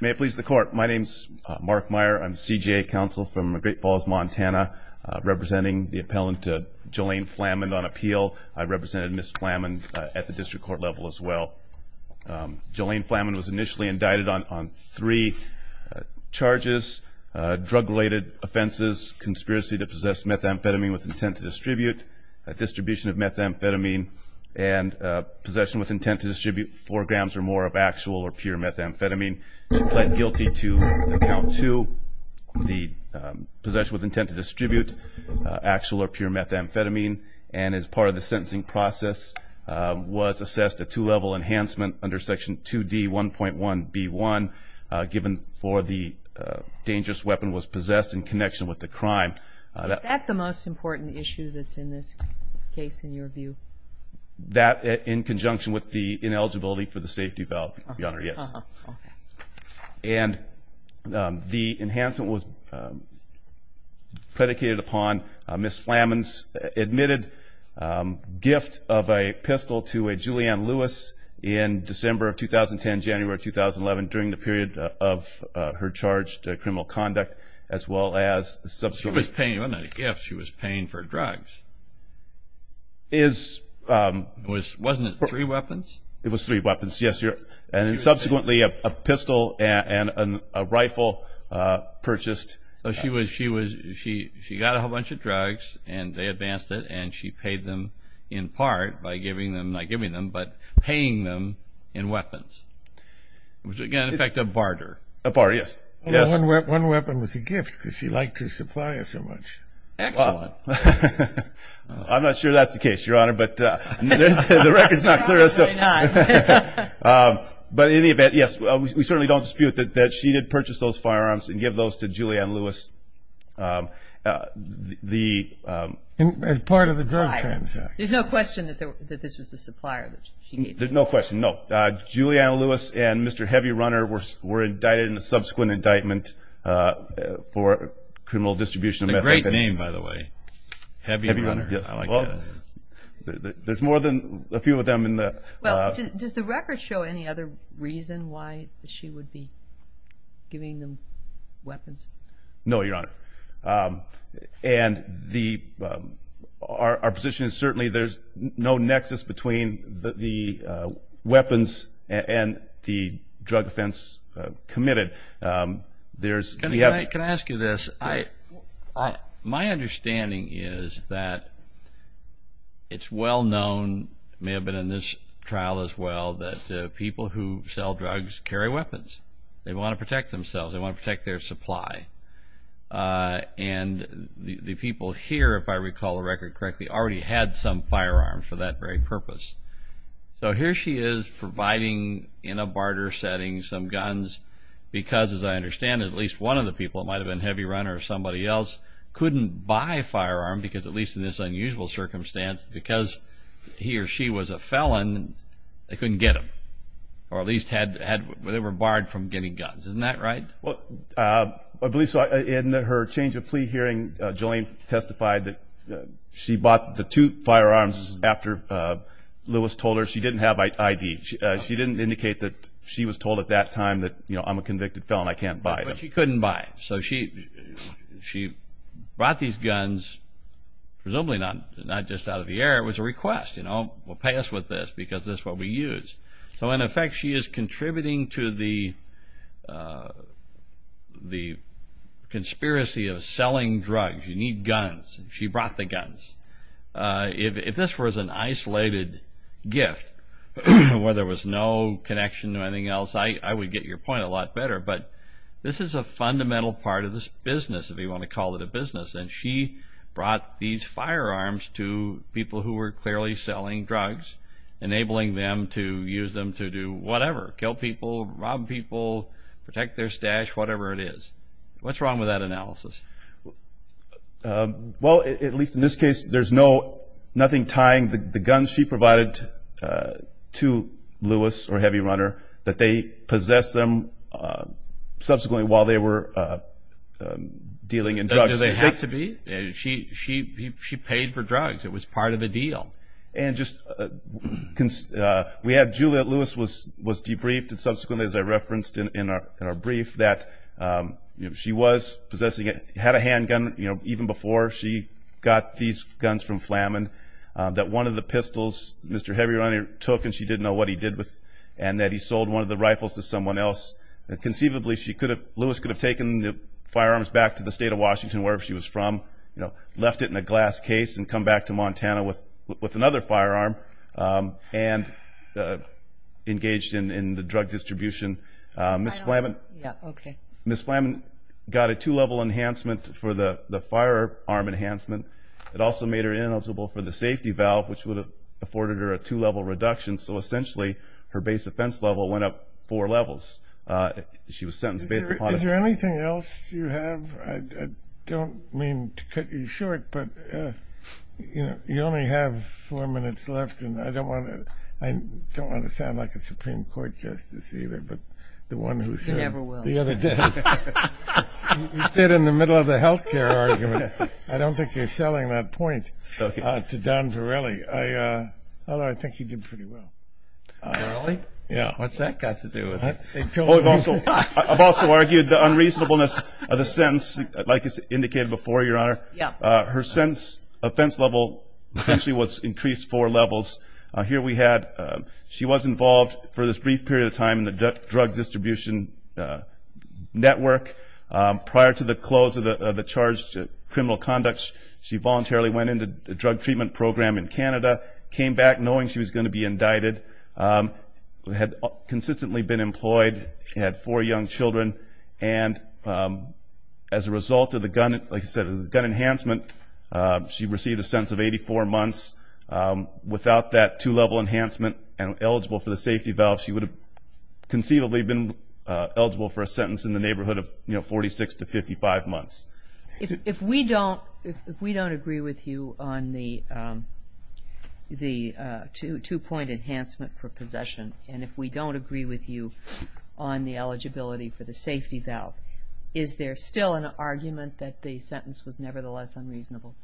May it please the court. My name is Mark Meyer. I'm the CJA counsel from Great Falls, Montana, representing the appellant Jolaine Flammond on appeal. I represented Ms. Flammond at the district court level as well. Jolaine Flammond was initially indicted on three charges, drug-related offenses, conspiracy to possess methamphetamine with intent to distribute, distribution of methamphetamine, and possession with intent to distribute four grams or more of actual or pure methamphetamine. She pled guilty to account two, the possession with intent to distribute actual or pure methamphetamine, and as part of the sentencing process was assessed a two-level enhancement under section 2d 1.1 b1 given for the dangerous weapon was possessed in connection with the crime. Is that the most important issue that's in this case in your view? That in conjunction with the ineligibility for the safety valve, your honor, yes. And the enhancement was predicated upon Ms. Flammond's admitted gift of a pistol to a Julianne Lewis in December of 2010, January 2011 during the period of her charged criminal conduct as well as subsequently. She was It was three weapons. Yes, sir. And then subsequently a pistol and a rifle purchased. So she was, she was, she, she got a whole bunch of drugs and they advanced it and she paid them in part by giving them, not giving them, but paying them in weapons. Was it going to affect a barter? A barter, yes. Yes. One weapon was a gift because she liked her supplier so much. Excellent. I'm not sure that's the case, your honor, but the record's not clear as to, but in any event, yes, we certainly don't dispute that she did purchase those firearms and give those to Julianne Lewis. The, as part of the drug transaction. There's no question that this was the supplier that she gave them. No question, no. Julianne Lewis and Mr. Heavy Runner were were indicted in a subsequent indictment for criminal distribution of meth. A great name by the way. Heavy Runner. Yes. There's more than a few of them in the. Well, does the record show any other reason why she would be giving them weapons? No, your honor. And the, our position is certainly there's no nexus between the weapons and the drug offense committed. There's. Can I ask you this? I. My understanding is that it's well known, may have been in this trial as well, that people who sell drugs carry weapons. They want to protect themselves. They want to protect their supply. And the people here, if I recall the record correctly, already had some firearms for that very purpose. So here she is providing in a barter setting some guns because, as I understand it, at least one of the people, it might have been Heavy Runner or somebody else, couldn't buy a firearm because, at least in this unusual circumstance, because he or she was a felon, they couldn't get them. Or at least had, they were barred from getting guns. Isn't that right? Well, I believe so. In her change of plea hearing, Julianne testified that she bought the two firearms after Lewis told her she didn't have ID. She didn't indicate that she was told at that time that, you know, I'm a convicted felon, I can't buy them. But she couldn't buy. So she brought these guns, presumably not just out of the air, it was a request, you know, we'll pay us with this because this is what we use. So in effect, she is contributing to the conspiracy of selling drugs. You need guns. She brought the guns. If this was an isolated gift where there was no connection to anything else, I would get your point a lot better. But this is a fundamental part of this business, if you want to call it a business. And she brought these firearms to people who were clearly selling drugs, enabling them to use them to do whatever, kill people, rob people, protect their stash, whatever it is. What's wrong with that analysis? Well, at least in this case, there's nothing tying the guns she provided to Lewis or Heavy Runner, that they possessed them subsequently while they were dealing in drugs. Do they have to be? She paid for drugs. It was part of a deal. And just, we had Juliette Lewis was debriefed and subsequently, as I referenced in our brief, that she was possessing it, had a handgun, you know, even before she got these guns from Flamin. That one of the pistols Mr. Heavy Runner took and she didn't know what he did with, and that he sold one of the rifles to someone else. And conceivably, she could have, Lewis could have taken the firearms back to the state of Washington, wherever she was from, you know, left it in a glass case and come back to Montana with another firearm and engaged in the drug distribution. Ms. Flamin got a two-level enhancement for the firearm enhancement. It also made her eligible for the safety valve, which would have afforded her a two-level reduction. So essentially, her base offense level went up four levels. She was sentenced based upon- Is there anything else you have? I don't mean to cut you short, but, you know, you only have four minutes left and I don't want to, I don't want to sound like a Supreme Court justice either, but the one who said- You never will. The other day, you said in the middle of the healthcare argument, I don't think you're selling that point to Don Varelli, although I think he did pretty well. Don Varelli? Yeah. What's that got to do with it? I've also argued the unreasonableness of the sentence, like it's indicated before, Your Honor. Her sentence offense level essentially was increased four levels. Here we had, she was involved for this brief period of time in the drug distribution network. Prior to the close of the charged criminal conduct, she voluntarily went into the drug treatment program in Canada, came back knowing she was going to be indicted, had consistently been employed, had four young children, and as a result of the gun, like I said, of the gun enhancement, she received a sentence of 84 months. Without that two-level enhancement and eligible for the safety valve, she would have conceivably been eligible for a sentence in the neighborhood of 46 to 55 months. If we don't agree with you on the two-point enhancement for possession, and if we don't agree with you on the eligibility for the safety valve, is there still an argument that the sentence was nevertheless unreasonable?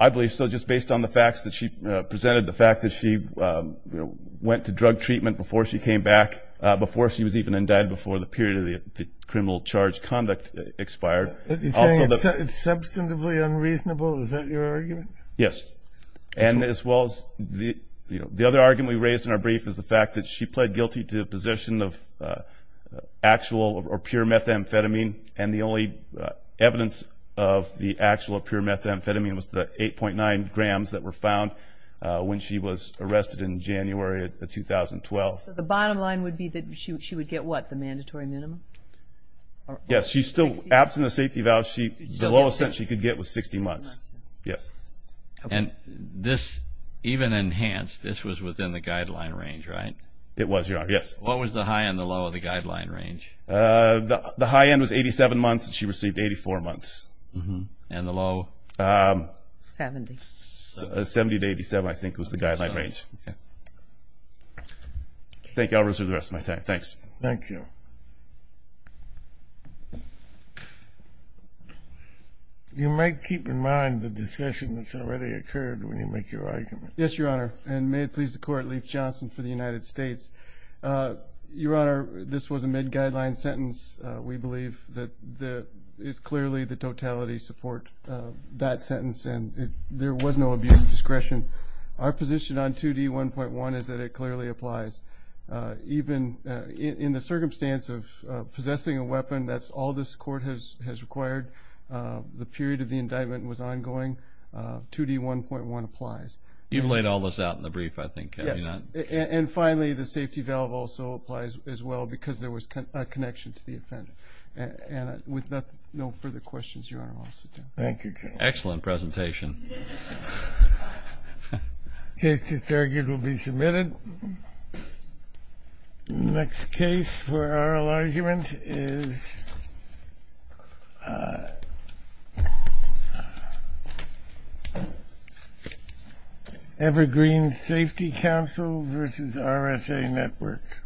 I believe so, just based on the facts that she presented, the fact that she went to drug treatment before she came back, before she was even indicted, before the period of the criminal charged conduct expired. You're saying it's substantively unreasonable? Is that your argument? Yes. And as well as the other argument we raised in our brief is the fact that she pled guilty to possession of actual or pure methamphetamine and the only evidence of the actual or pure methamphetamine was the 8.9 grams that were found when she was arrested in January of 2012. So the bottom line would be that she would get what, the mandatory minimum? Yes, she still, absent the safety valve, the lowest sentence she could get was 60 months. And this, even enhanced, this was within the guideline range, right? It was, Your Honor, yes. What was the high and the low of the guideline range? The high end was 87 months and she received 84 months. And the low? 70. 70 to 87, I think, was the guideline range. Thank you. I'll reserve the rest of my time. Thanks. Thank you. You might keep in mind the discussion that's already occurred when you make your argument. Yes, Your Honor. And may it please the Court, Leif Johnson for the United States. Your Honor, this was a mid-guideline sentence. We believe that it's clearly the totality support that sentence and there was no abuse of discretion. Our position on 2D1.1 is that it clearly applies. Even in the circumstance of possessing a weapon, that's all this Court has required. The period of the indictment was ongoing. 2D1.1 applies. You laid all this out in the brief, I think. And finally, the safety valve also applies as well because there was a connection to the offense. And with no further questions, Your Honor, I'll sit down. Thank you. Excellent presentation. Case disargued will be submitted. Next case for oral argument is Evergreen Safety Council v. RSA Network